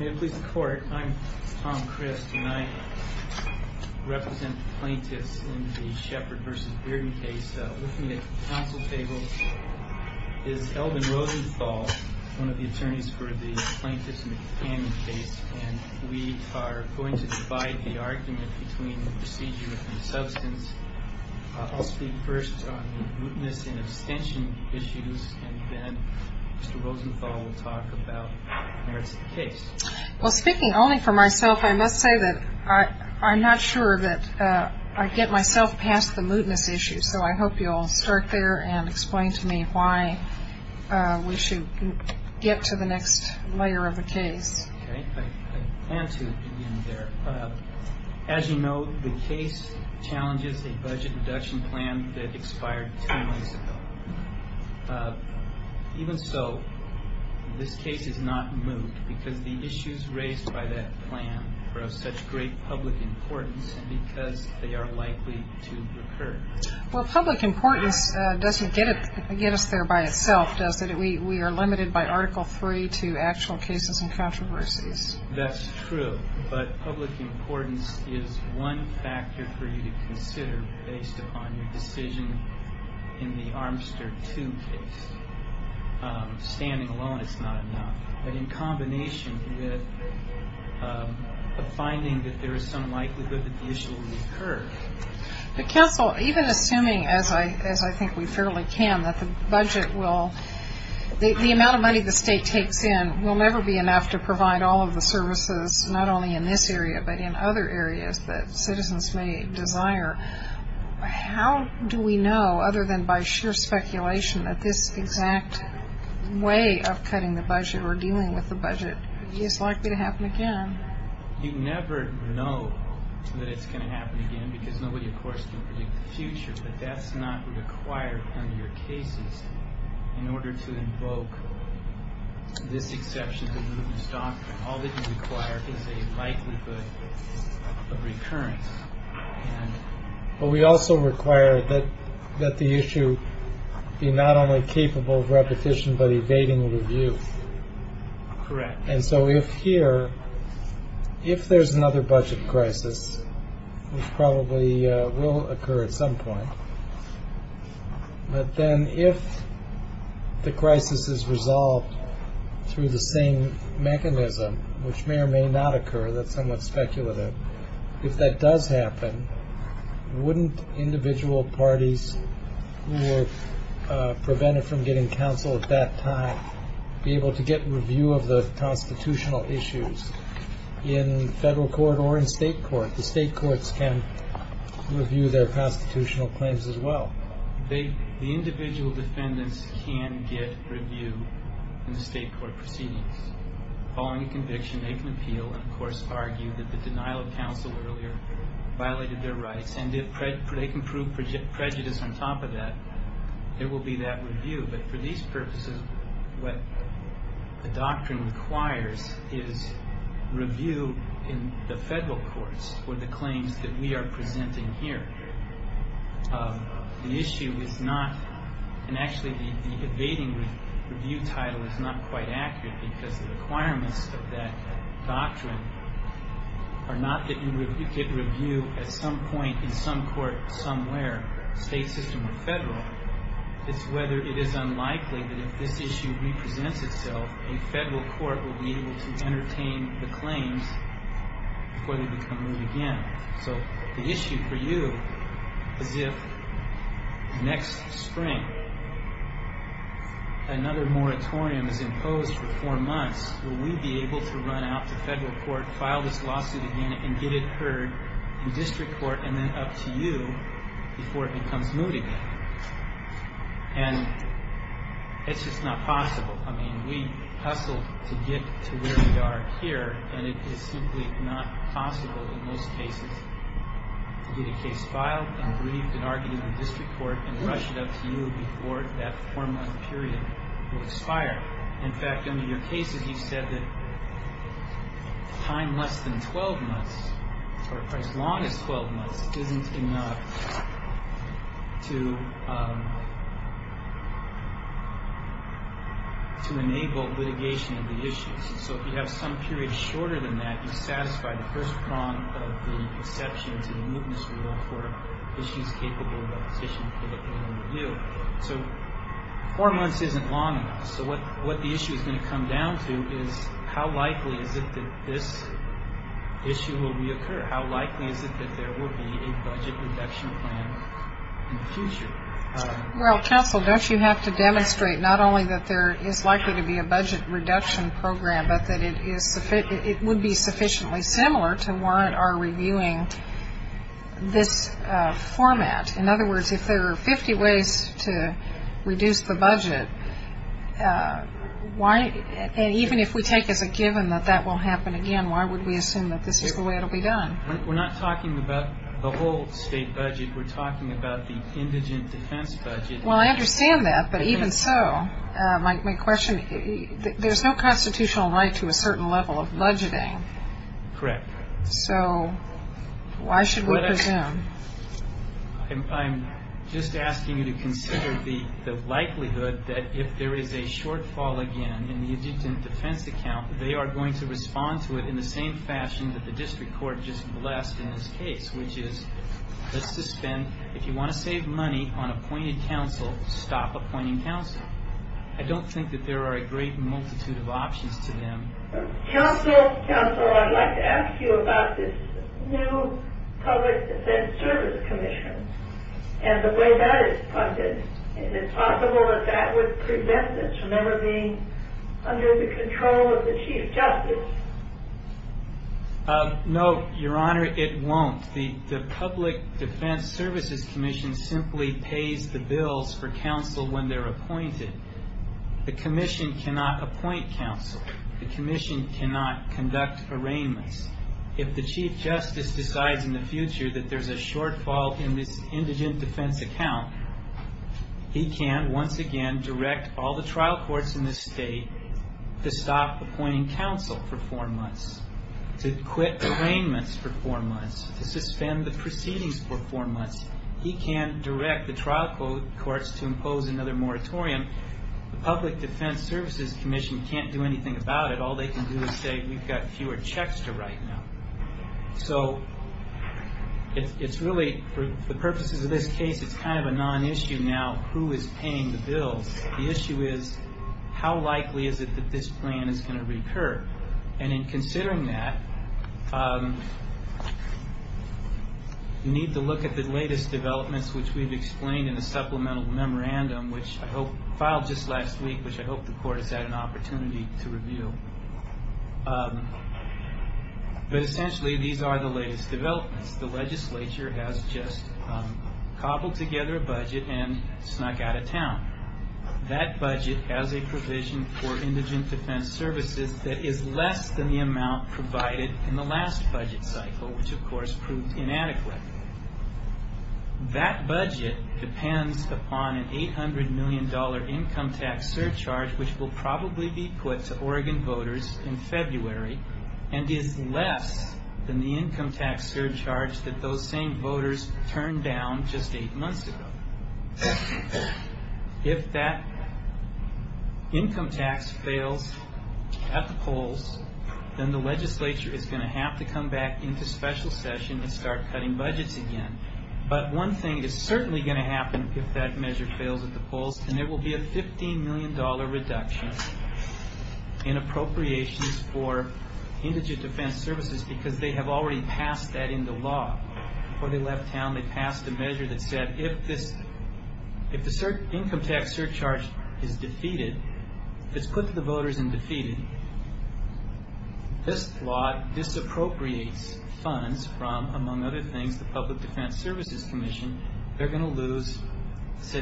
I'm Tom Crist and I represent plaintiffs in the Sheppard v. Bearden case. With me at the council table is Elvin Rosenthal, one of the attorneys for the plaintiffs in the Campion case. We are going to divide the argument between the procedure and the substance. I'll speak first on the mootness and abstention issues and then Mr. Rosenthal will talk about merits of the case. Well, speaking only for myself, I must say that I'm not sure that I get myself past the mootness issue, so I hope you'll start there and explain to me why we should get to the next layer of the case. Okay, I plan to begin there. As you know, the case challenges a budget reduction plan that expired two months ago. Even so, this case is not moot because the issues raised by that plan are of such great public importance and because they are likely to recur. Well, public importance doesn't get us there by itself, does it? We are limited by Article III to actual cases and controversies. That's true, but public importance is one factor for you to consider based upon your decision in the Armster II case. Standing alone is not enough, but in combination with a finding that there is some likelihood that the issue will recur. But counsel, even assuming, as I think we fairly can, that the budget will, the amount of money the state takes in will never be enough to provide all of the services, not only in this area, but in other areas that citizens may desire. How do we know, other than by sheer speculation, that this exact way of cutting the budget or dealing with the budget is likely to happen again? You never know that it's going to happen again because nobody, of course, can predict the future, but that's not required under your cases in order to invoke this exception to the mootness doctrine. All that you require is a likelihood of recurrence. But we also require that the issue be not only capable of repetition but evading review. Correct. And so if here, if there's another budget crisis, which probably will occur at some point, but then if the crisis is resolved through the same mechanism, which may or may not occur, that's somewhat speculative, if that does happen, wouldn't individual parties who were prevented from getting counsel at that time be able to get review of the constitutional issues in federal court or in state court? The state courts can review their constitutional claims as well. The individual defendants can get review in the state court proceedings. Following a conviction, they can appeal and, of course, argue that the denial of counsel earlier violated their rights, and they can prove prejudice on top of that. There will be that review. But for these purposes, what the doctrine requires is review in the federal courts for the claims that we are presenting here. The issue is not, and actually the evading review title is not quite accurate because the requirements of that doctrine are not that you get review at some point in some court somewhere, state system or federal. It's whether it is unlikely that if this issue represents itself, a federal court will be able to entertain the claims before they become ruled again. So the issue for you is if next spring another moratorium is imposed for four months, will we be able to run out to federal court, file this lawsuit again, and get it heard in district court and then up to you before it becomes moot again? And it's just not possible. I mean, we hustled to get to where we are here, and it is simply not possible in most cases to get a case filed and briefed and argued in district court and rush it up to you before that four-month period will expire. In fact, under your cases, you said that time less than 12 months, or as long as 12 months, isn't enough to enable litigation of the issues. So if you have some period shorter than that, you satisfy the first prong of the exception to the mootness rule for issues capable of opposition in review. So four months isn't long enough. So what the issue is going to come down to is how likely is it that this issue will reoccur? How likely is it that there will be a budget reduction plan in the future? Well, counsel, don't you have to demonstrate not only that there is likely to be a budget reduction program, but that it would be sufficiently similar to warrant our reviewing this format? In other words, if there are 50 ways to reduce the budget, and even if we take as a given that that will happen again, why would we assume that this is the way it will be done? We're not talking about the whole state budget. We're talking about the indigent defense budget. Well, I understand that, but even so, my question, there's no constitutional right to a certain level of budgeting. Correct. So why should we presume? I'm just asking you to consider the likelihood that if there is a shortfall again in the indigent defense account, they are going to respond to it in the same fashion that the district court just blessed in this case, which is if you want to save money on appointed counsel, stop appointing counsel. I don't think that there are a great multitude of options to them. Counsel, Counsel, I'd like to ask you about this new public defense service commission and the way that it's funded. Is it possible that that would prevent this from ever being under the control of the Chief Justice? No, Your Honor, it won't. The public defense services commission simply pays the bills for counsel when they're appointed. The commission cannot appoint counsel. The commission cannot conduct arraignments. If the Chief Justice decides in the future that there's a shortfall in this indigent defense account, he can once again direct all the trial courts in this state to stop appointing counsel for four months, to quit arraignments for four months, to suspend the proceedings for four months. He can direct the trial courts to impose another moratorium. The public defense services commission can't do anything about it. All they can do is say we've got fewer checks to write now. So it's really, for the purposes of this case, it's kind of a non-issue now who is paying the bills. The issue is how likely is it that this plan is going to recur? And in considering that, you need to look at the latest developments, which we've explained in the supplemental memorandum, which I hope filed just last week, which I hope the court has had an opportunity to review. But essentially, these are the latest developments. The legislature has just cobbled together a budget and snuck out of town. That budget has a provision for indigent defense services that is less than the amount provided in the last budget cycle, which, of course, proved inadequate. That budget depends upon an $800 million income tax surcharge, which will probably be put to Oregon voters in February, and is less than the income tax surcharge that those same voters turned down just eight months ago. If that income tax fails at the polls, then the legislature is going to have to come back into special session and start cutting budgets again. But one thing is certainly going to happen if that measure fails at the polls, and there will be a $15 million reduction in appropriations for indigent defense services because they have already passed that into law. Before they left town, they passed a measure that said if the income tax surcharge is defeated, if it's put to the voters and defeated, this law disappropriates funds from, among other things, the Public Defense Services Commission. They're going to lose, I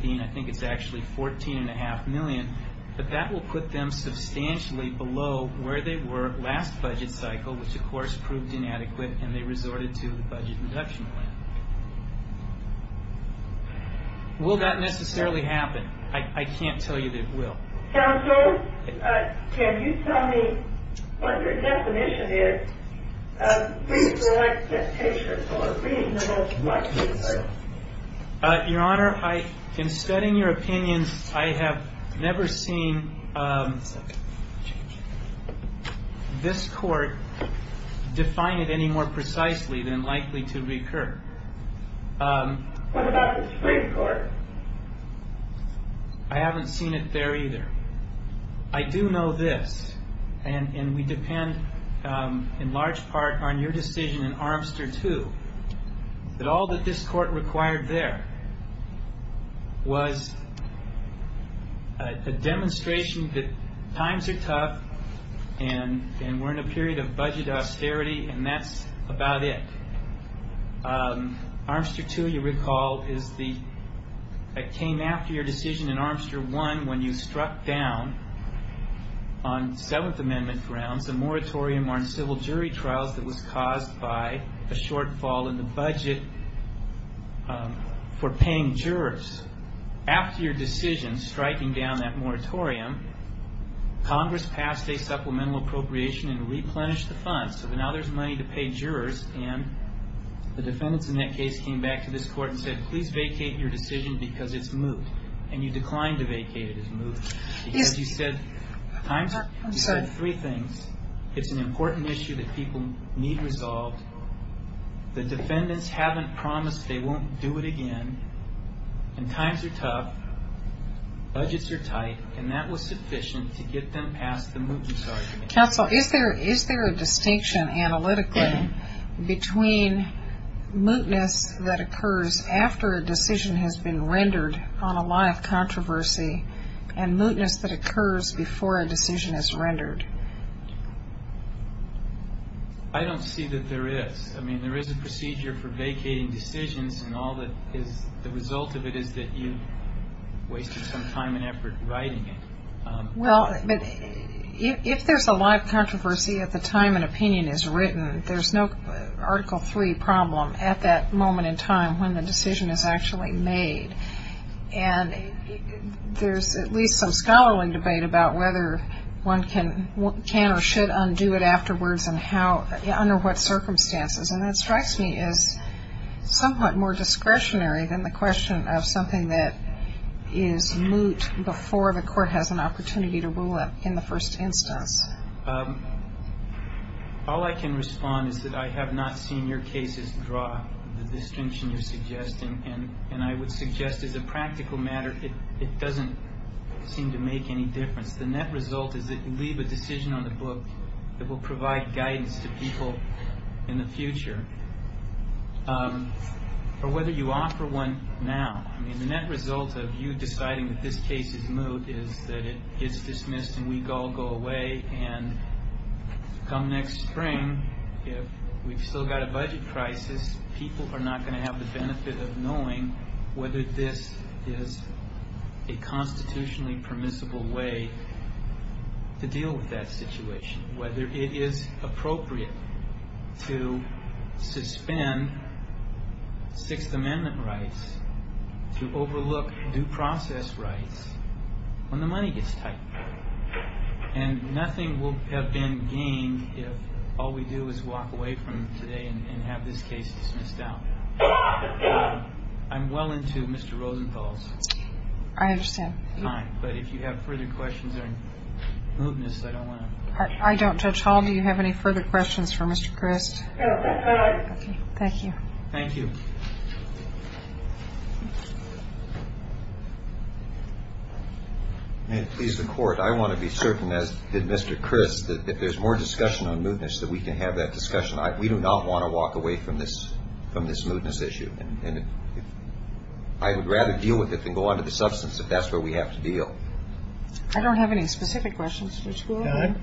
think it's actually $14.5 million, but that will put them substantially below where they were last budget cycle, which, of course, proved inadequate, and they resorted to the budget reduction plan. Will that necessarily happen? I can't tell you that it will. Counsel, can you tell me what your definition is of reasonable expectation or reasonable likelihood? Your Honor, in studying your opinions, I have never seen this court define it any more precisely than likely to recur. What about the Supreme Court? I haven't seen it there either. I do know this, and we depend in large part on your decision in Armster 2, that all that this court required there was a demonstration that times are tough and we're in a period of budget austerity, and that's about it. Armster 2, you recall, came after your decision in Armster 1 when you struck down, on Seventh Amendment grounds, a moratorium on civil jury trials that was caused by a shortfall in the budget for paying jurors. After your decision, striking down that moratorium, Congress passed a supplemental appropriation and replenished the funds, so now there's money to pay jurors, and the defendants in that case came back to this court and said, please vacate your decision because it's moot, and you declined to vacate it as moot because you said three things. It's an important issue that people need resolved. The defendants haven't promised they won't do it again, and times are tough, budgets are tight, and that was sufficient to get them past the mootness argument. Counsel, is there a distinction analytically between mootness that occurs after a decision has been rendered on a lot of controversy and mootness that occurs before a decision is rendered? I don't see that there is. I mean, there is a procedure for vacating decisions, and the result of it is that you've wasted some time and effort writing it. Well, if there's a lot of controversy at the time an opinion is written, there's no Article III problem at that moment in time when the decision is actually made, and there's at least some scholarly debate about whether one can or should undo it afterwards and under what circumstances, and that strikes me as somewhat more discretionary than the question of something that is moot before the court has an opportunity to rule it in the first instance. All I can respond is that I have not seen your cases draw the distinction you're suggesting, and I would suggest as a practical matter it doesn't seem to make any difference. The net result is that you leave a decision on the book that will provide guidance to people in the future, or whether you offer one now. I mean, the net result of you deciding that this case is moot is that it gets dismissed and we all go away, and come next spring, if we've still got a budget crisis, people are not going to have the benefit of knowing whether this is a constitutionally permissible way to deal with that situation, whether it is appropriate to suspend Sixth Amendment rights to overlook due process rights when the money gets tight, and nothing will have been gained if all we do is walk away from today and have this case dismissed out. I'm well into Mr. Rosenthal's time, but if you have further questions or mootness, I don't want to... I don't. Judge Hall, do you have any further questions for Mr. Crist? Thank you. Thank you. May it please the Court, I want to be certain, as did Mr. Crist, that if there's more discussion on mootness that we can have that discussion. We do not want to walk away from this mootness issue, and I would rather deal with it than go on to the substance if that's where we have to deal. I don't have any specific questions.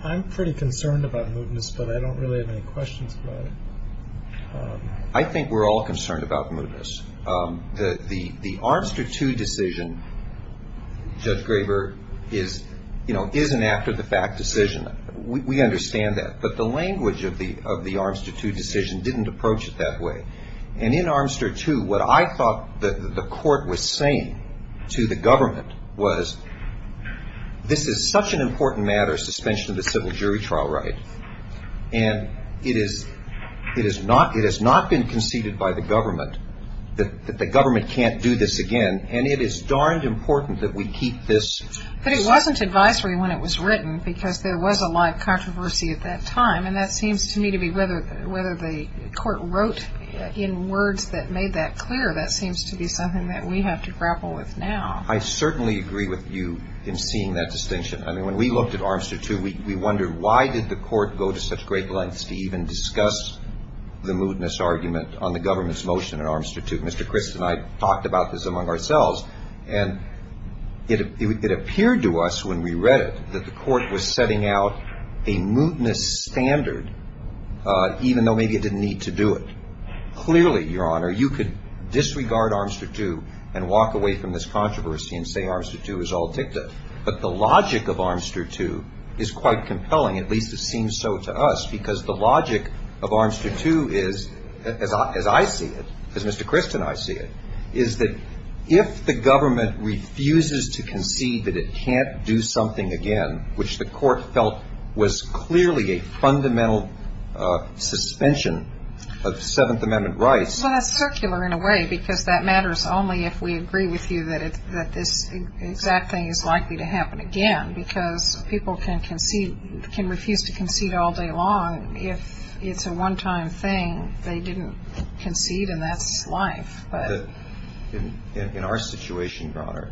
I'm pretty concerned about mootness, but I don't really have any questions about it. I think we're all concerned about mootness. The Armster II decision, Judge Graber, is, you know, is an after-the-fact decision. We understand that. But the language of the Armster II decision didn't approach it that way. And in Armster II, what I thought the Court was saying to the government was, this is such an important matter, suspension of the civil jury trial right, and it has not been conceded by the government that the government can't do this again, and it is darned important that we keep this. But it wasn't advisory when it was written because there was a lot of controversy at that time, and that seems to me to be whether the Court wrote in words that made that clear. That seems to be something that we have to grapple with now. I certainly agree with you in seeing that distinction. I mean, when we looked at Armster II, we wondered why did the Court go to such great lengths to even discuss the mootness argument on the government's motion in Armster II. Mr. Crist and I talked about this among ourselves, and it appeared to us when we read it that the Court was setting out a mootness standard, even though maybe it didn't need to do it. Clearly, Your Honor, you could disregard Armster II and walk away from this controversy and say Armster II is all dicta. But the logic of Armster II is quite compelling, at least it seems so to us, because the logic of Armster II is, as I see it, as Mr. Crist and I see it, is that if the government refuses to concede that it can't do something again, which the Court felt was clearly a fundamental suspension of Seventh Amendment rights. Well, that's circular in a way because that matters only if we agree with you that this exact thing is likely to happen again because people can refuse to concede all day long if it's a one-time thing. They didn't concede, and that's life. In our situation, Your Honor,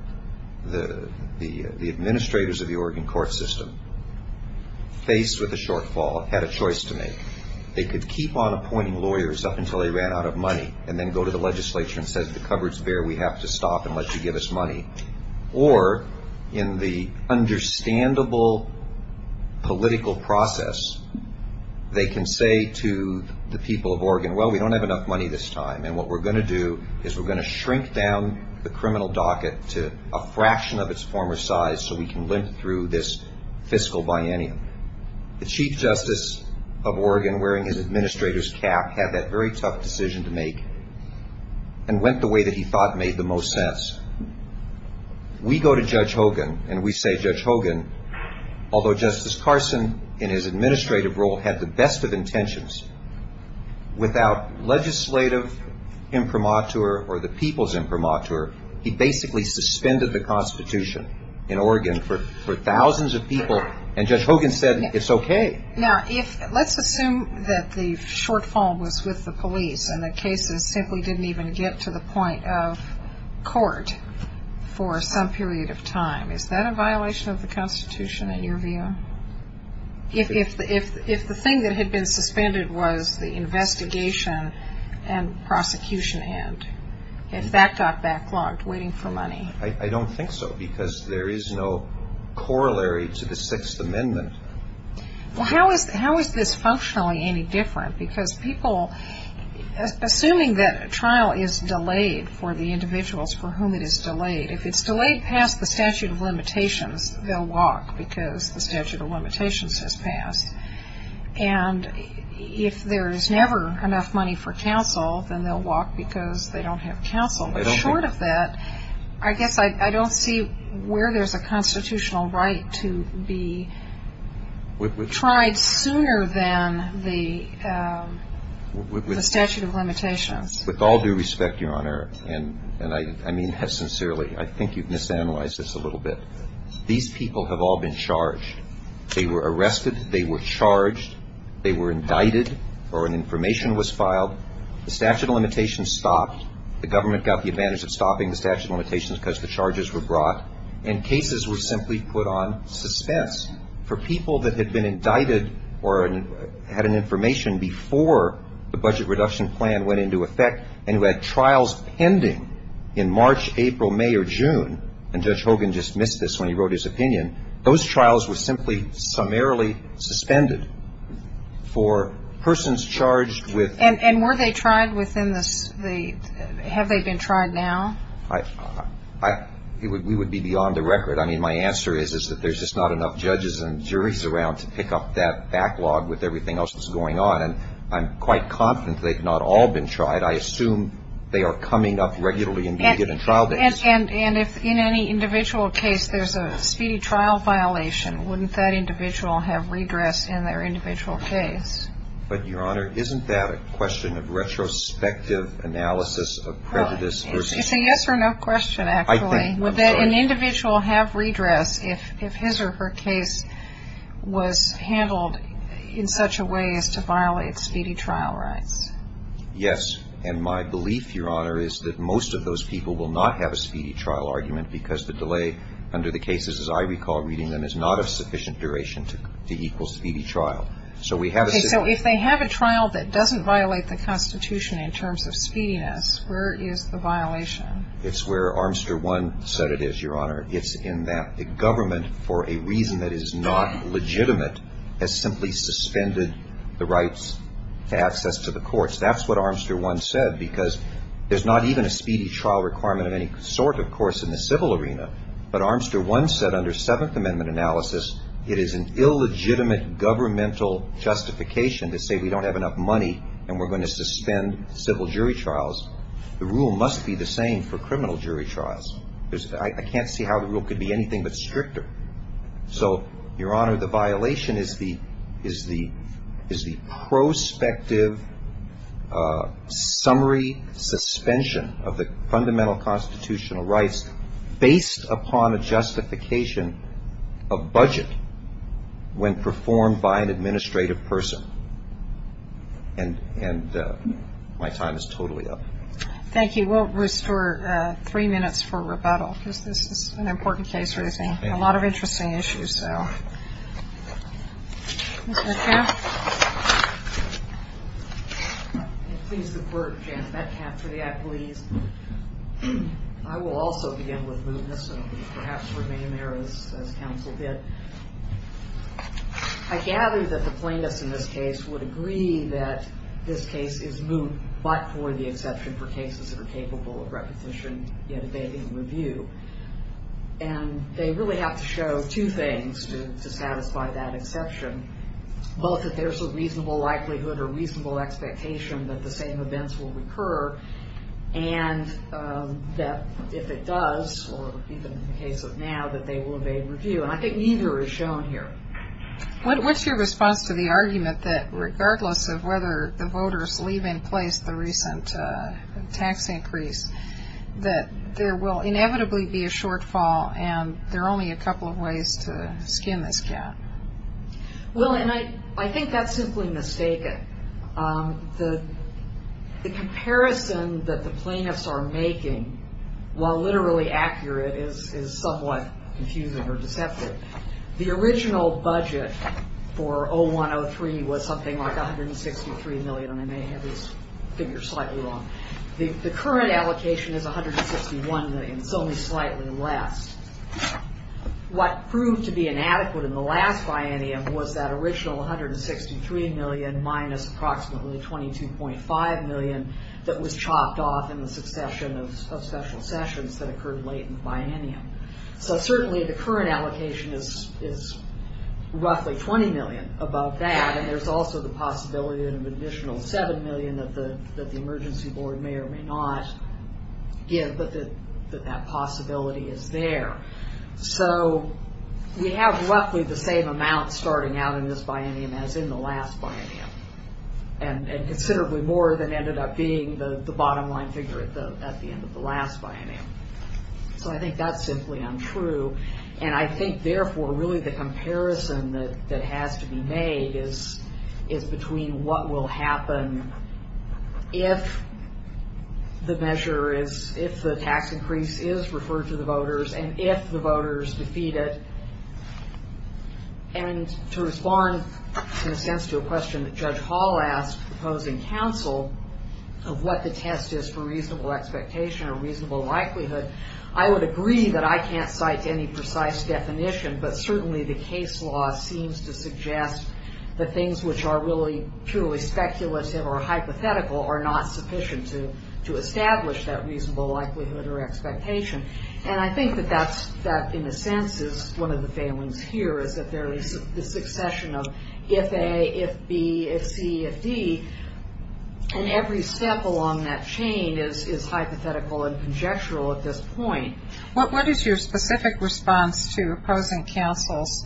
the administrators of the Oregon court system, faced with a shortfall, had a choice to make. They could keep on appointing lawyers up until they ran out of money and then go to the legislature and say the cupboard's bare. We have to stop unless you give us money. Or in the understandable political process, they can say to the people of Oregon, well, we don't have enough money this time, and what we're going to do is we're going to shrink down the criminal docket to a fraction of its former size so we can limp through this fiscal biennium. The Chief Justice of Oregon, wearing his administrator's cap, had that very tough decision to make and went the way that he thought made the most sense. We go to Judge Hogan, and we say, Judge Hogan, although Justice Carson, in his administrative role, had the best of intentions, without legislative imprimatur or the people's imprimatur, he basically suspended the Constitution in Oregon for thousands of people, and Judge Hogan said it's okay. Now, let's assume that the shortfall was with the police and the cases simply didn't even get to the point of court for some period of time. Is that a violation of the Constitution in your view? If the thing that had been suspended was the investigation and prosecution end, if that got backlogged, waiting for money? I don't think so, because there is no corollary to the Sixth Amendment. Well, how is this functionally any different? Because people, assuming that a trial is delayed for the individuals for whom it is delayed, if it's delayed past the statute of limitations, they'll walk because the statute of limitations has passed. And if there is never enough money for counsel, then they'll walk because they don't have counsel. Short of that, I guess I don't see where there's a constitutional right to be tried sooner than the statute of limitations. With all due respect, Your Honor, and I mean this sincerely. I think you've misanalyzed this a little bit. These people have all been charged. They were arrested. They were charged. They were indicted or an information was filed. The statute of limitations stopped. The government got the advantage of stopping the statute of limitations because the charges were brought. And cases were simply put on suspense. For people that had been indicted or had an information before the budget reduction plan went into effect and who had trials pending in March, April, May, or June, and Judge Hogan just missed this when he wrote his opinion, those trials were simply summarily suspended for persons charged with ‑‑ And were they tried within the ‑‑ have they been tried now? We would be beyond the record. I mean, my answer is that there's just not enough judges and juries around to pick up that backlog with everything else that's going on. And I'm quite confident they've not all been tried. I assume they are coming up regularly in being given trial days. And if in any individual case there's a speedy trial violation, wouldn't that individual have redress in their individual case? But, Your Honor, isn't that a question of retrospective analysis of prejudice versus ‑‑ It's a yes or no question, actually. I think so. Would an individual have redress if his or her case was handled in such a way as to violate speedy trial rights? Yes. And my belief, Your Honor, is that most of those people will not have a speedy trial argument because the delay under the cases, as I recall reading them, is not of sufficient duration to equal speedy trial. Okay. So if they have a trial that doesn't violate the Constitution in terms of speediness, where is the violation? It's where Armster 1 said it is, Your Honor. It's in that the government, for a reason that is not legitimate, has simply suspended the rights to access to the courts. That's what Armster 1 said because there's not even a speedy trial requirement of any sort, of course, in the civil arena. But Armster 1 said under Seventh Amendment analysis it is an illegitimate governmental justification to say we don't have enough money and we're going to suspend civil jury trials. The rule must be the same for criminal jury trials. I can't see how the rule could be anything but stricter. So, Your Honor, the violation is the prospective summary suspension of the fundamental constitutional rights based upon a justification of budget when performed by an administrative person. And my time is totally up. Thank you. We'll restore three minutes for rebuttal because this is an important case, Ruthie. A lot of interesting issues, so. Ms. Metcalf. Please defer, Jan Metcalf, to the appeals. I will also begin with mootness and perhaps remain there as counsel did. I gather that the plaintiffs in this case would agree that this case is moot, but for the exception for cases that are capable of requisition, yet evading review. And they really have to show two things to satisfy that exception, both that there's a reasonable likelihood or reasonable expectation that the same events will recur and that if it does, or even in the case of now, that they will evade review. And I think neither is shown here. What's your response to the argument that regardless of whether the voters leave in place the recent tax increase, that there will inevitably be a shortfall and there are only a couple of ways to skin this cat? Well, and I think that's simply mistaken. The comparison that the plaintiffs are making, while literally accurate, is somewhat confusing or deceptive. The original budget for 0103 was something like $163 million, and I may have this figure slightly wrong. The current allocation is $161 million. It's only slightly less. What proved to be inadequate in the last biennium was that original $163 million minus approximately $22.5 million that was chopped off in the succession of special sessions that occurred late in the biennium. So certainly the current allocation is roughly $20 million above that, and there's also the possibility of an additional $7 million that the emergency board may or may not give, but that possibility is there. So we have roughly the same amount starting out in this biennium as in the last biennium, and considerably more than ended up being the bottom line figure at the end of the last biennium. So I think that's simply untrue, and I think, therefore, really the comparison that has to be made is between what will happen if the measure is, if the tax increase is referred to the voters and if the voters defeat it. And to respond, in a sense, to a question that Judge Hall asked proposing counsel of what the test is for reasonable expectation or reasonable likelihood, I would agree that I can't cite any precise definition, but certainly the case law seems to suggest that things which are really purely speculative or hypothetical are not sufficient to establish that reasonable likelihood or expectation. And I think that that, in a sense, is one of the failings here, is that there is the succession of if A, if B, if C, if D, and every step along that chain is hypothetical and conjectural at this point. What is your specific response to opposing counsel's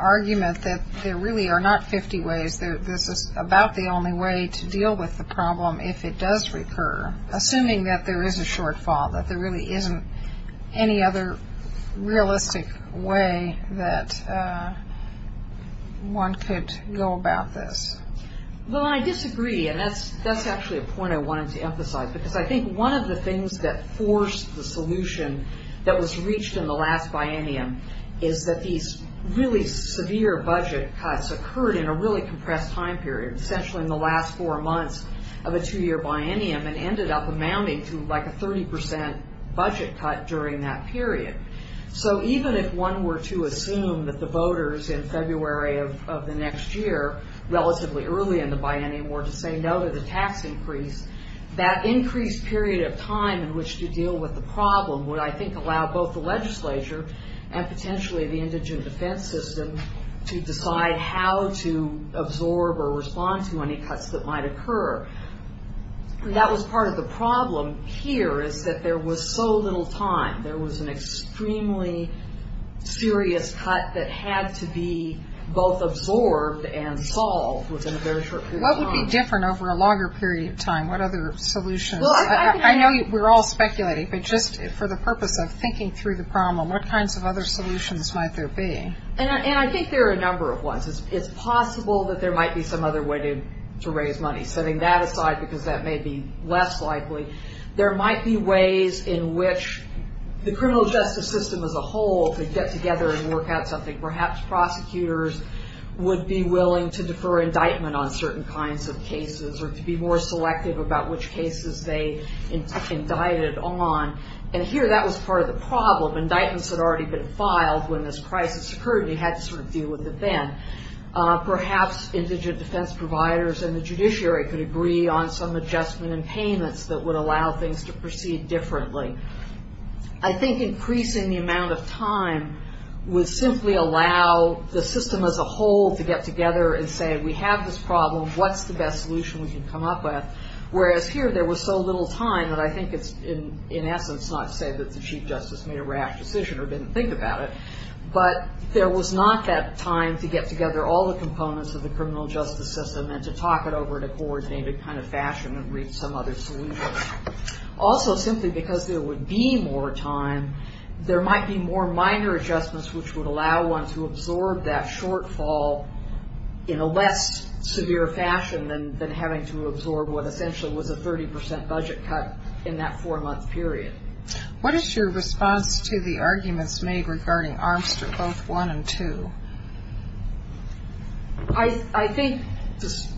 argument that there really are not 50 ways, this is about the only way to deal with the problem if it does recur, assuming that there is a shortfall, that there really isn't any other realistic way that one could go about this? Well, I disagree, and that's actually a point I wanted to emphasize, because I think one of the things that forced the solution that was reached in the last biennium is that these really severe budget cuts occurred in a really compressed time period, essentially in the last four months of a two-year biennium, and ended up amounting to like a 30% budget cut during that period. So even if one were to assume that the voters in February of the next year, relatively early in the biennium, were to say no to the tax increase, that increased period of time in which to deal with the problem would, I think, allow both the legislature and potentially the indigent defense system to decide how to absorb or respond to any cuts that might occur. That was part of the problem here, is that there was so little time. There was an extremely serious cut that had to be both absorbed and solved within a very short period of time. What would be different over a longer period of time? What other solutions? I know we're all speculating, but just for the purpose of thinking through the problem, what kinds of other solutions might there be? I think there are a number of ones. It's possible that there might be some other way to raise money. Setting that aside, because that may be less likely, there might be ways in which the criminal justice system as a whole could get together and work out something. Perhaps prosecutors would be willing to defer indictment on certain kinds of cases or to be more selective about which cases they indicted on. Here, that was part of the problem. Indictments had already been filed when this crisis occurred and you had to deal with it then. Perhaps indigent defense providers and the judiciary could agree on some adjustment and payments that would allow things to proceed differently. I think increasing the amount of time would simply allow the system as a whole to get together and say, we have this problem, what's the best solution we can come up with? Whereas here, there was so little time that I think it's, in essence, not to say that the Chief Justice made a rash decision or didn't think about it, but there was not that time to get together all the components of the criminal justice system and to talk it over in a coordinated kind of fashion and reach some other solution. Also, simply because there would be more time, there might be more minor adjustments which would allow one to absorb that shortfall in a less severe fashion than having to absorb what essentially was a 30 percent budget cut in that four-month period. What is your response to the arguments made regarding Armstrong both 1 and 2? I think,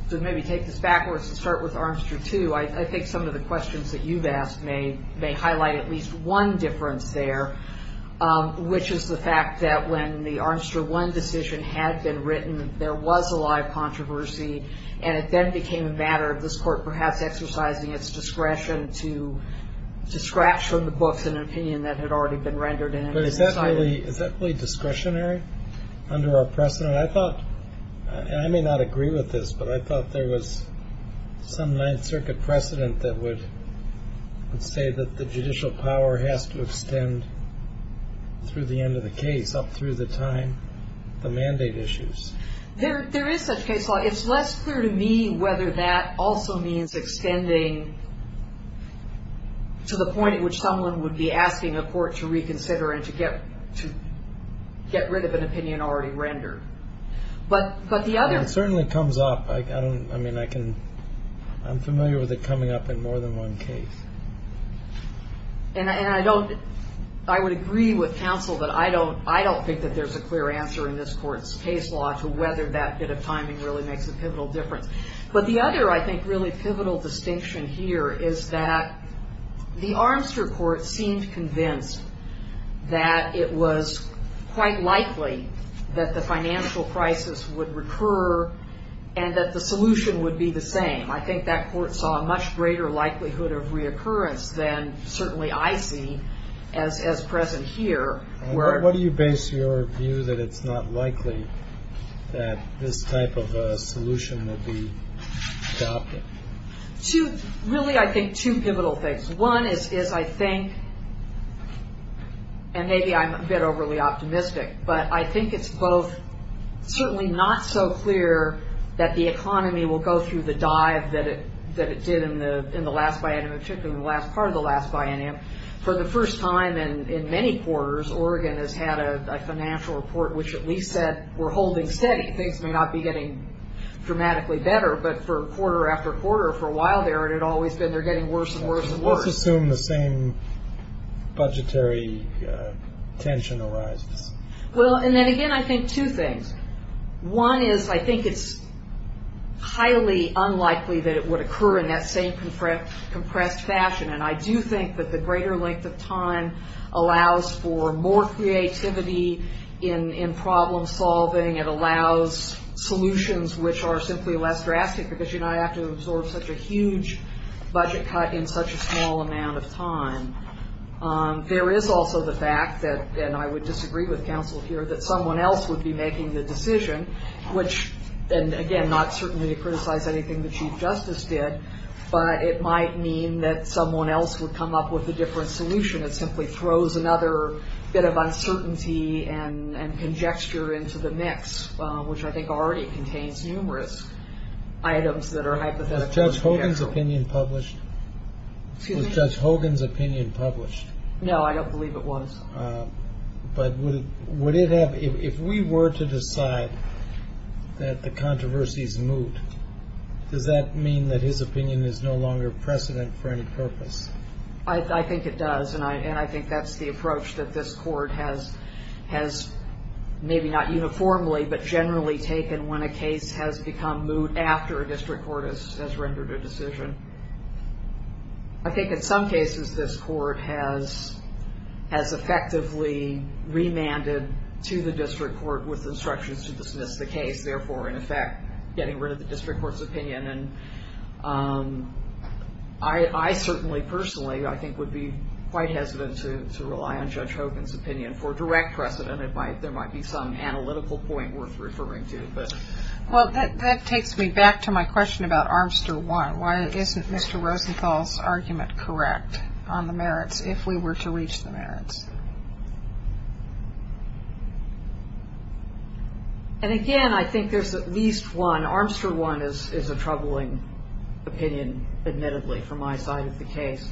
to maybe take this backwards and start with Armstrong 2, I think some of the questions that you've asked may highlight at least one difference there, which is the fact that when the Armstrong 1 decision had been written, there was a live controversy, and it then became a matter of this court perhaps exercising its discretion to scratch from the books an opinion that had already been rendered. But is that really discretionary under our precedent? I thought, and I may not agree with this, but I thought there was some Ninth Circuit precedent that would say that the judicial power has to extend through the end of the case up through the time the mandate issues. There is such case law. It's less clear to me whether that also means extending to the point at which someone would be asking a court to reconsider and to get rid of an opinion already rendered. It certainly comes up. I'm familiar with it coming up in more than one case. And I would agree with counsel that I don't think that there's a clear answer in this court's case law to whether that bit of timing really makes a pivotal difference. But the other, I think, really pivotal distinction here is that the Armster Court seemed convinced that it was quite likely that the financial crisis would recur and that the solution would be the same. I think that court saw a much greater likelihood of reoccurrence than certainly I see as present here. What do you base your view that it's not likely that this type of a solution would be adopted? Really, I think two pivotal things. One is I think, and maybe I'm a bit overly optimistic, but I think it's both certainly not so clear that the economy will go through the dive that it did in the last biennium, particularly in the last part of the last biennium. For the first time in many quarters, Oregon has had a financial report which at least said we're holding steady. Things may not be getting dramatically better, but for quarter after quarter for a while there, it had always been they're getting worse and worse and worse. Let's assume the same budgetary tension arises. Well, and then again, I think two things. One is I think it's highly unlikely that it would occur in that same compressed fashion, and I do think that the greater length of time allows for more creativity in problem solving. It allows solutions which are simply less drastic because you don't have to absorb such a huge budget cut in such a small amount of time. There is also the fact that, and I would disagree with counsel here, that someone else would be making the decision, which, and again, not certainly to criticize anything the chief justice did, but it might mean that someone else would come up with a different solution. It simply throws another bit of uncertainty and conjecture into the mix, which I think already contains numerous items that are hypothetical. Was Judge Hogan's opinion published? Excuse me? Was Judge Hogan's opinion published? No, I don't believe it was. But would it have, if we were to decide that the controversy is moot, does that mean that his opinion is no longer precedent for any purpose? I think it does, and I think that's the approach that this court has maybe not uniformly but generally taken when a case has become moot after a district court has rendered a decision. I think in some cases this court has effectively remanded to the district court with instructions to dismiss the case, therefore, in effect, getting rid of the district court's opinion. And I certainly, personally, I think would be quite hesitant to rely on Judge Hogan's opinion. For direct precedent, there might be some analytical point worth referring to. Well, that takes me back to my question about Armster 1. Why isn't Mr. Rosenthal's argument correct on the merits if we were to reach the merits? And, again, I think there's at least one. Armster 1 is a troubling opinion, admittedly, from my side of the case.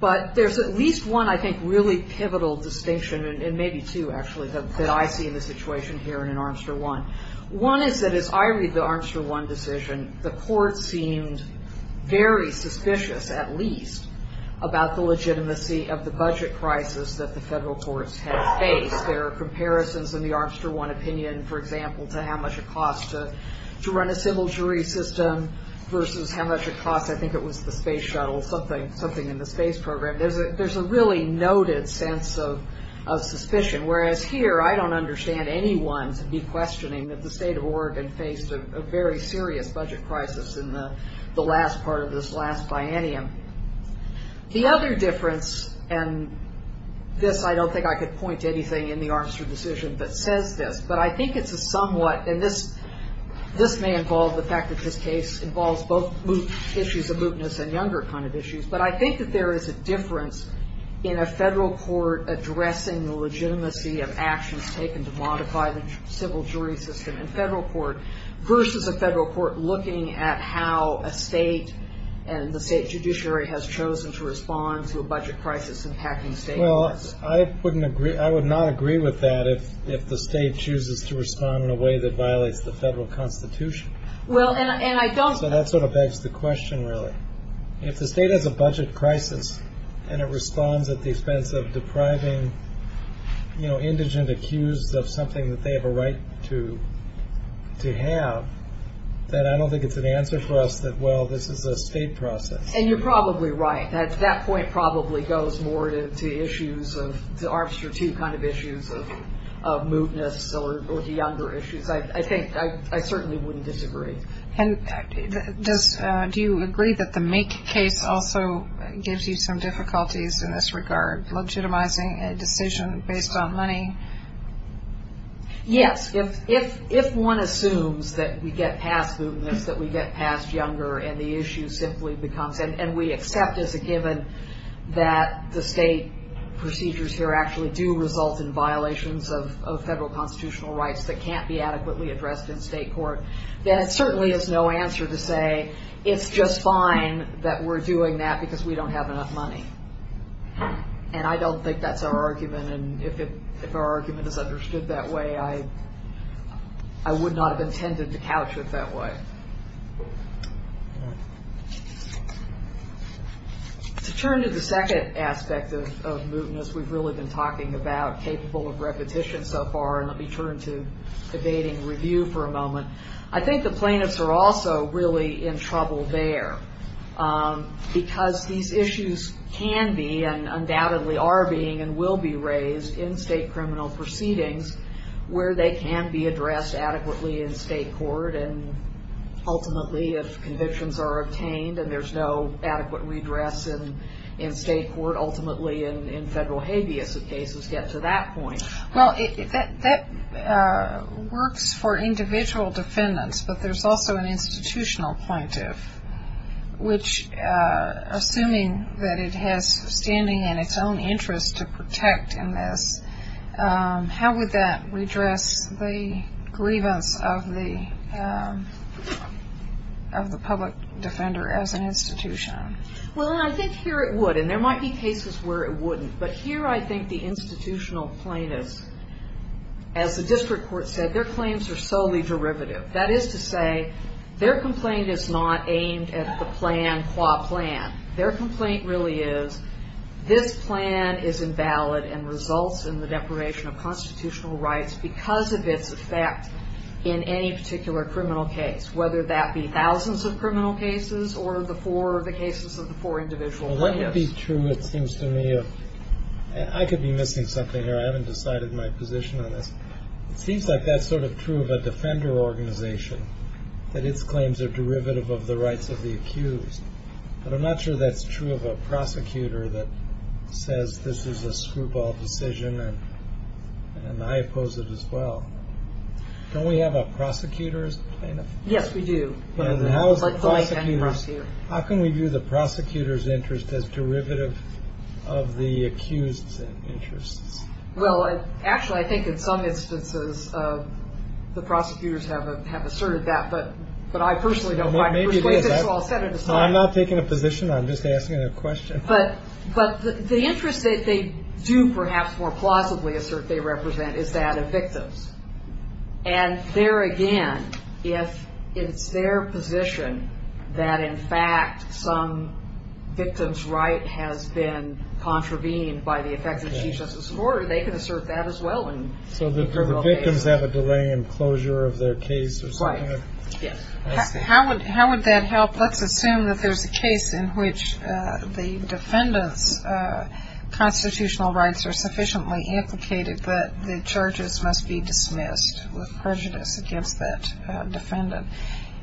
But there's at least one, I think, really pivotal distinction, and maybe two, actually, that I see in the situation here and in Armster 1. One is that as I read the Armster 1 decision, the court seemed very suspicious, at least, about the legitimacy of the budget crisis that the federal courts had faced. There are comparisons in the Armster 1 opinion, for example, to how much it cost to run a civil jury system versus how much it cost, I think it was the space shuttle, something in the space program. There's a really noted sense of suspicion. Whereas here, I don't understand anyone to be questioning that the state of Oregon faced a very serious budget crisis in the last part of this last biennium. The other difference, and this I don't think I could point to anything in the Armster decision that says this, but I think it's a somewhat, and this may involve the fact that this case involves both issues of mootness and younger kind of issues, but I think that there is a difference in a federal court addressing the legitimacy of actions taken to modify the civil jury system in federal court versus a federal court looking at how a state and the state judiciary has chosen to respond to a budget crisis impacting the state of Oregon. Well, I would not agree with that if the state chooses to respond in a way that violates the federal constitution. So that sort of begs the question, really. If the state has a budget crisis and it responds at the expense of depriving indigent accused of something that they have a right to have, then I don't think it's an answer for us that, well, this is a state process. And you're probably right. That point probably goes more to Armster II kind of issues of mootness or the younger issues. I certainly wouldn't disagree. And do you agree that the Make case also gives you some difficulties in this regard, legitimizing a decision based on money? Yes. If one assumes that we get past mootness, that we get past younger, and the issue simply becomes, and we accept as a given that the state procedures here actually do result in violations of federal constitutional rights that can't be adequately addressed in state court, then it certainly is no answer to say it's just fine that we're doing that because we don't have enough money. And I don't think that's our argument. And if our argument is understood that way, I would not have intended to couch it that way. To turn to the second aspect of mootness we've really been talking about, capable of repetition so far, and let me turn to evading review for a moment. I think the plaintiffs are also really in trouble there because these issues can be and undoubtedly are being and will be raised in state criminal proceedings where they can be addressed adequately in state court and ultimately if convictions are obtained and there's no adequate redress in state court, ultimately in federal habeas of cases get to that point. Well, that works for individual defendants, but there's also an institutional plaintiff, which assuming that it has standing in its own interest to protect in this, how would that redress the grievance of the public defender as an institution? Well, I think here it would, and there might be cases where it wouldn't, but here I think the institutional plaintiffs, as the district court said, their claims are solely derivative. That is to say their complaint is not aimed at the plan qua plan. Their complaint really is this plan is invalid and results in the deprivation of constitutional rights because of its effect in any particular criminal case, whether that be thousands of criminal cases or the cases of the four individual plaintiffs. Well, what would be true it seems to me of, I could be missing something here. I haven't decided my position on this. It seems like that's sort of true of a defender organization that its claims are derivative of the rights of the accused, but I'm not sure that's true of a prosecutor that says this is a screwball decision and I oppose it as well. Don't we have a prosecutor's plaintiff? Yes, we do. How can we view the prosecutor's interest as derivative of the accused's interests? Well, actually I think in some instances the prosecutors have asserted that, but I personally don't find persuasive, so I'll set it aside. I'm not taking a position, I'm just asking a question. But the interest that they do perhaps more plausibly assert they represent is that of victims. And there again, if it's their position that, in fact, some victim's right has been contravened by the effective Chief Justice of the Court, they can assert that as well in a criminal case. So the victims have a delay in closure of their case or something? Right, yes. How would that help? Let's assume that there's a case in which the defendant's constitutional rights are sufficiently implicated that the charges must be dismissed with prejudice against that defendant.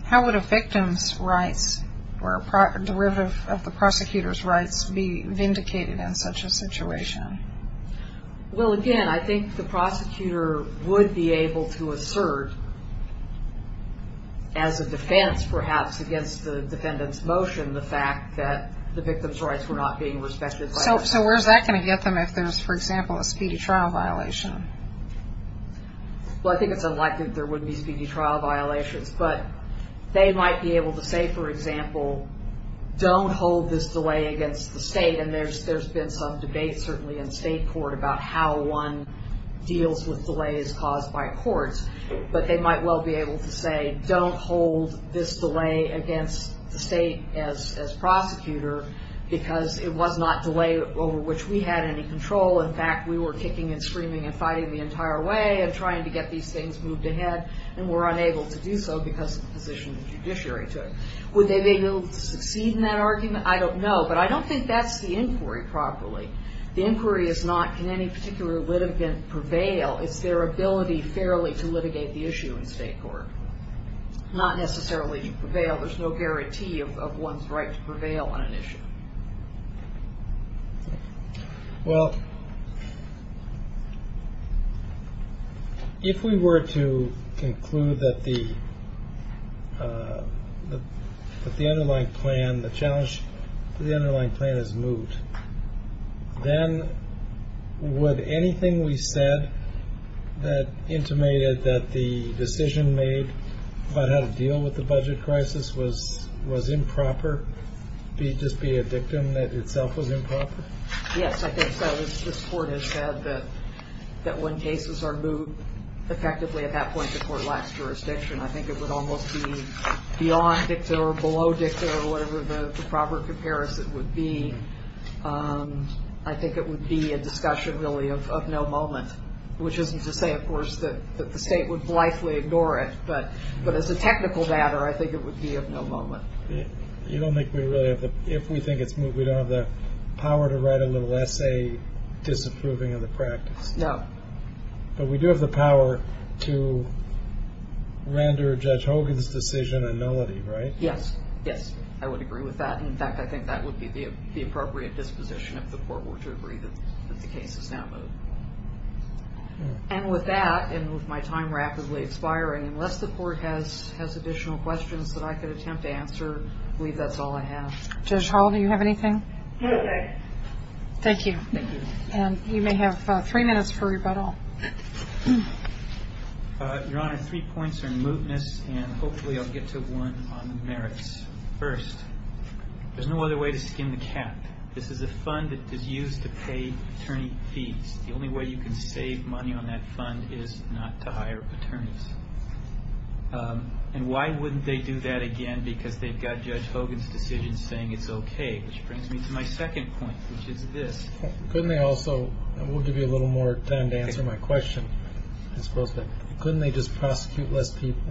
How would a victim's rights or derivative of the prosecutor's rights be vindicated in such a situation? Well, again, I think the prosecutor would be able to assert, as a defense perhaps against the defendant's motion, the fact that the victim's rights were not being respected. So where's that going to get them if there's, for example, a speedy trial violation? Well, I think it's unlikely that there would be speedy trial violations. But they might be able to say, for example, don't hold this delay against the state. And there's been some debate certainly in state court about how one deals with delays caused by courts. But they might well be able to say don't hold this delay against the state as prosecutor because it was not delay over which we had any control. In fact, we were kicking and screaming and fighting the entire way and trying to get these things moved ahead and were unable to do so because of the position the judiciary took. Would they be able to succeed in that argument? I don't know. But I don't think that's the inquiry properly. The inquiry is not can any particular litigant prevail. It's their ability fairly to litigate the issue in state court, not necessarily prevail. There's no guarantee of one's right to prevail on an issue. Well, if we were to conclude that the underlying plan, the challenge to the underlying plan has moved, then would anything we said that intimated that the decision made about how to deal with the budget crisis was improper, just be a dictum that itself was improper? Yes, I think so. This court has said that when cases are moved effectively at that point, the court lacks jurisdiction. I think it would almost be beyond dictum or below dictum or whatever the proper comparison would be. I think it would be a discussion really of no moment, which isn't to say, of course, that the state would blithely ignore it. But as a technical matter, I think it would be of no moment. You don't think we really have the – if we think it's moved, we don't have the power to write a little essay disapproving of the practice. No. But we do have the power to render Judge Hogan's decision a nullity, right? Yes. Yes, I would agree with that. In fact, I think that would be the appropriate disposition if the court were to agree that the case is now moved. And with that and with my time rapidly expiring, unless the court has additional questions that I could attempt to answer, I believe that's all I have. Judge Hall, do you have anything? No, thank you. Thank you. Thank you. And you may have three minutes for rebuttal. Your Honor, three points are in mootness, and hopefully I'll get to one on the merits first. There's no other way to skin the cat. This is a fund that is used to pay attorney fees. The only way you can save money on that fund is not to hire attorneys. And why wouldn't they do that again? Because they've got Judge Hogan's decision saying it's okay, which brings me to my second point, which is this. Couldn't they also – and we'll give you a little more time to answer my question. Couldn't they just prosecute less people?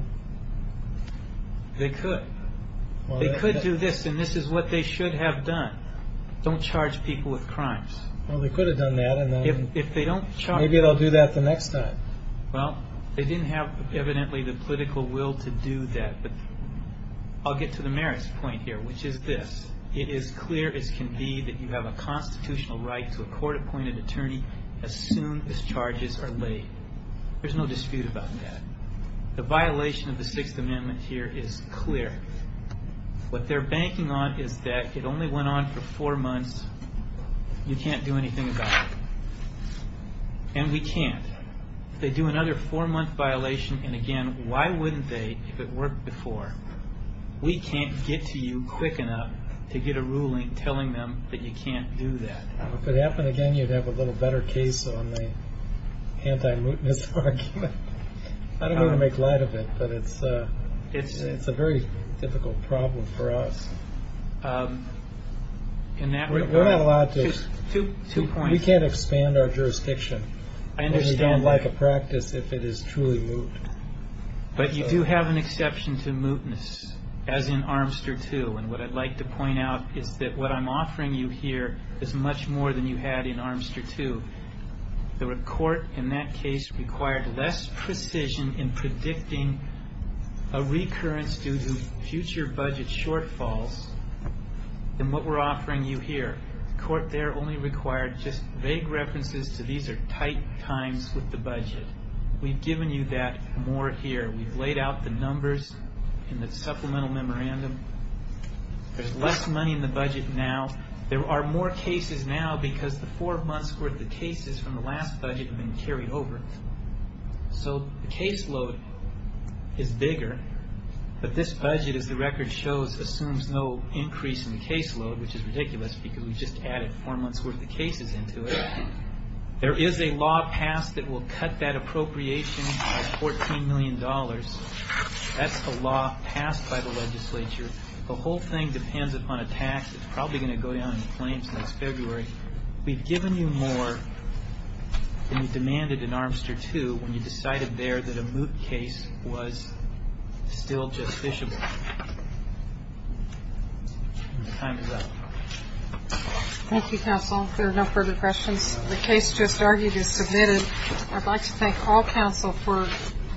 They could. They could do this, and this is what they should have done. Don't charge people with crimes. Well, they could have done that, and maybe they'll do that the next time. Well, they didn't have, evidently, the political will to do that. But I'll get to the merits point here, which is this. It is clear as can be that you have a constitutional right to a court-appointed attorney as soon as charges are laid. There's no dispute about that. The violation of the Sixth Amendment here is clear. What they're banking on is that it only went on for four months. You can't do anything about it. And we can't. If they do another four-month violation, and again, why wouldn't they if it worked before? We can't get to you quick enough to get a ruling telling them that you can't do that. If it happened again, you'd have a little better case on the anti-mutiny argument. I don't mean to make light of it, but it's a very difficult problem for us. We're not allowed to. We can't expand our jurisdiction. We don't like a practice if it is truly moot. But you do have an exception to mootness, as in Armster 2. And what I'd like to point out is that what I'm offering you here is much more than you had in Armster 2. The court in that case required less precision in predicting a recurrence due to future budget shortfalls than what we're offering you here. The court there only required just vague references to these are tight times with the budget. We've given you that more here. We've laid out the numbers in the supplemental memorandum. There's less money in the budget now. There are more cases now because the four months' worth of cases from the last budget have been carried over. So the caseload is bigger, but this budget, as the record shows, assumes no increase in the caseload, which is ridiculous because we just added four months' worth of cases into it. There is a law passed that will cut that appropriation by $14 million. That's the law passed by the legislature. The whole thing depends upon a tax. It's probably going to go down in the claims next February. We've given you more than you demanded in Armster 2 when you decided there that a moot case was still justifiable. The time is up. Thank you, counsel. If there are no further questions, the case just argued is submitted. I'd like to thank all counsel for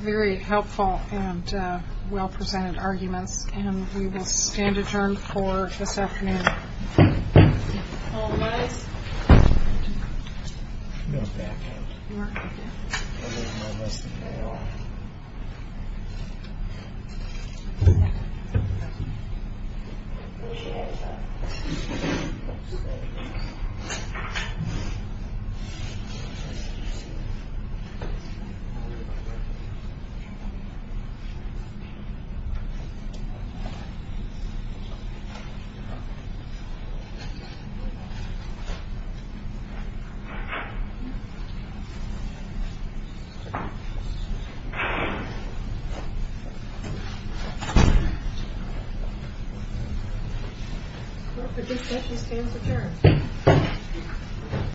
very helpful and well-presented arguments, and we will stand adjourned for this afternoon. All rise.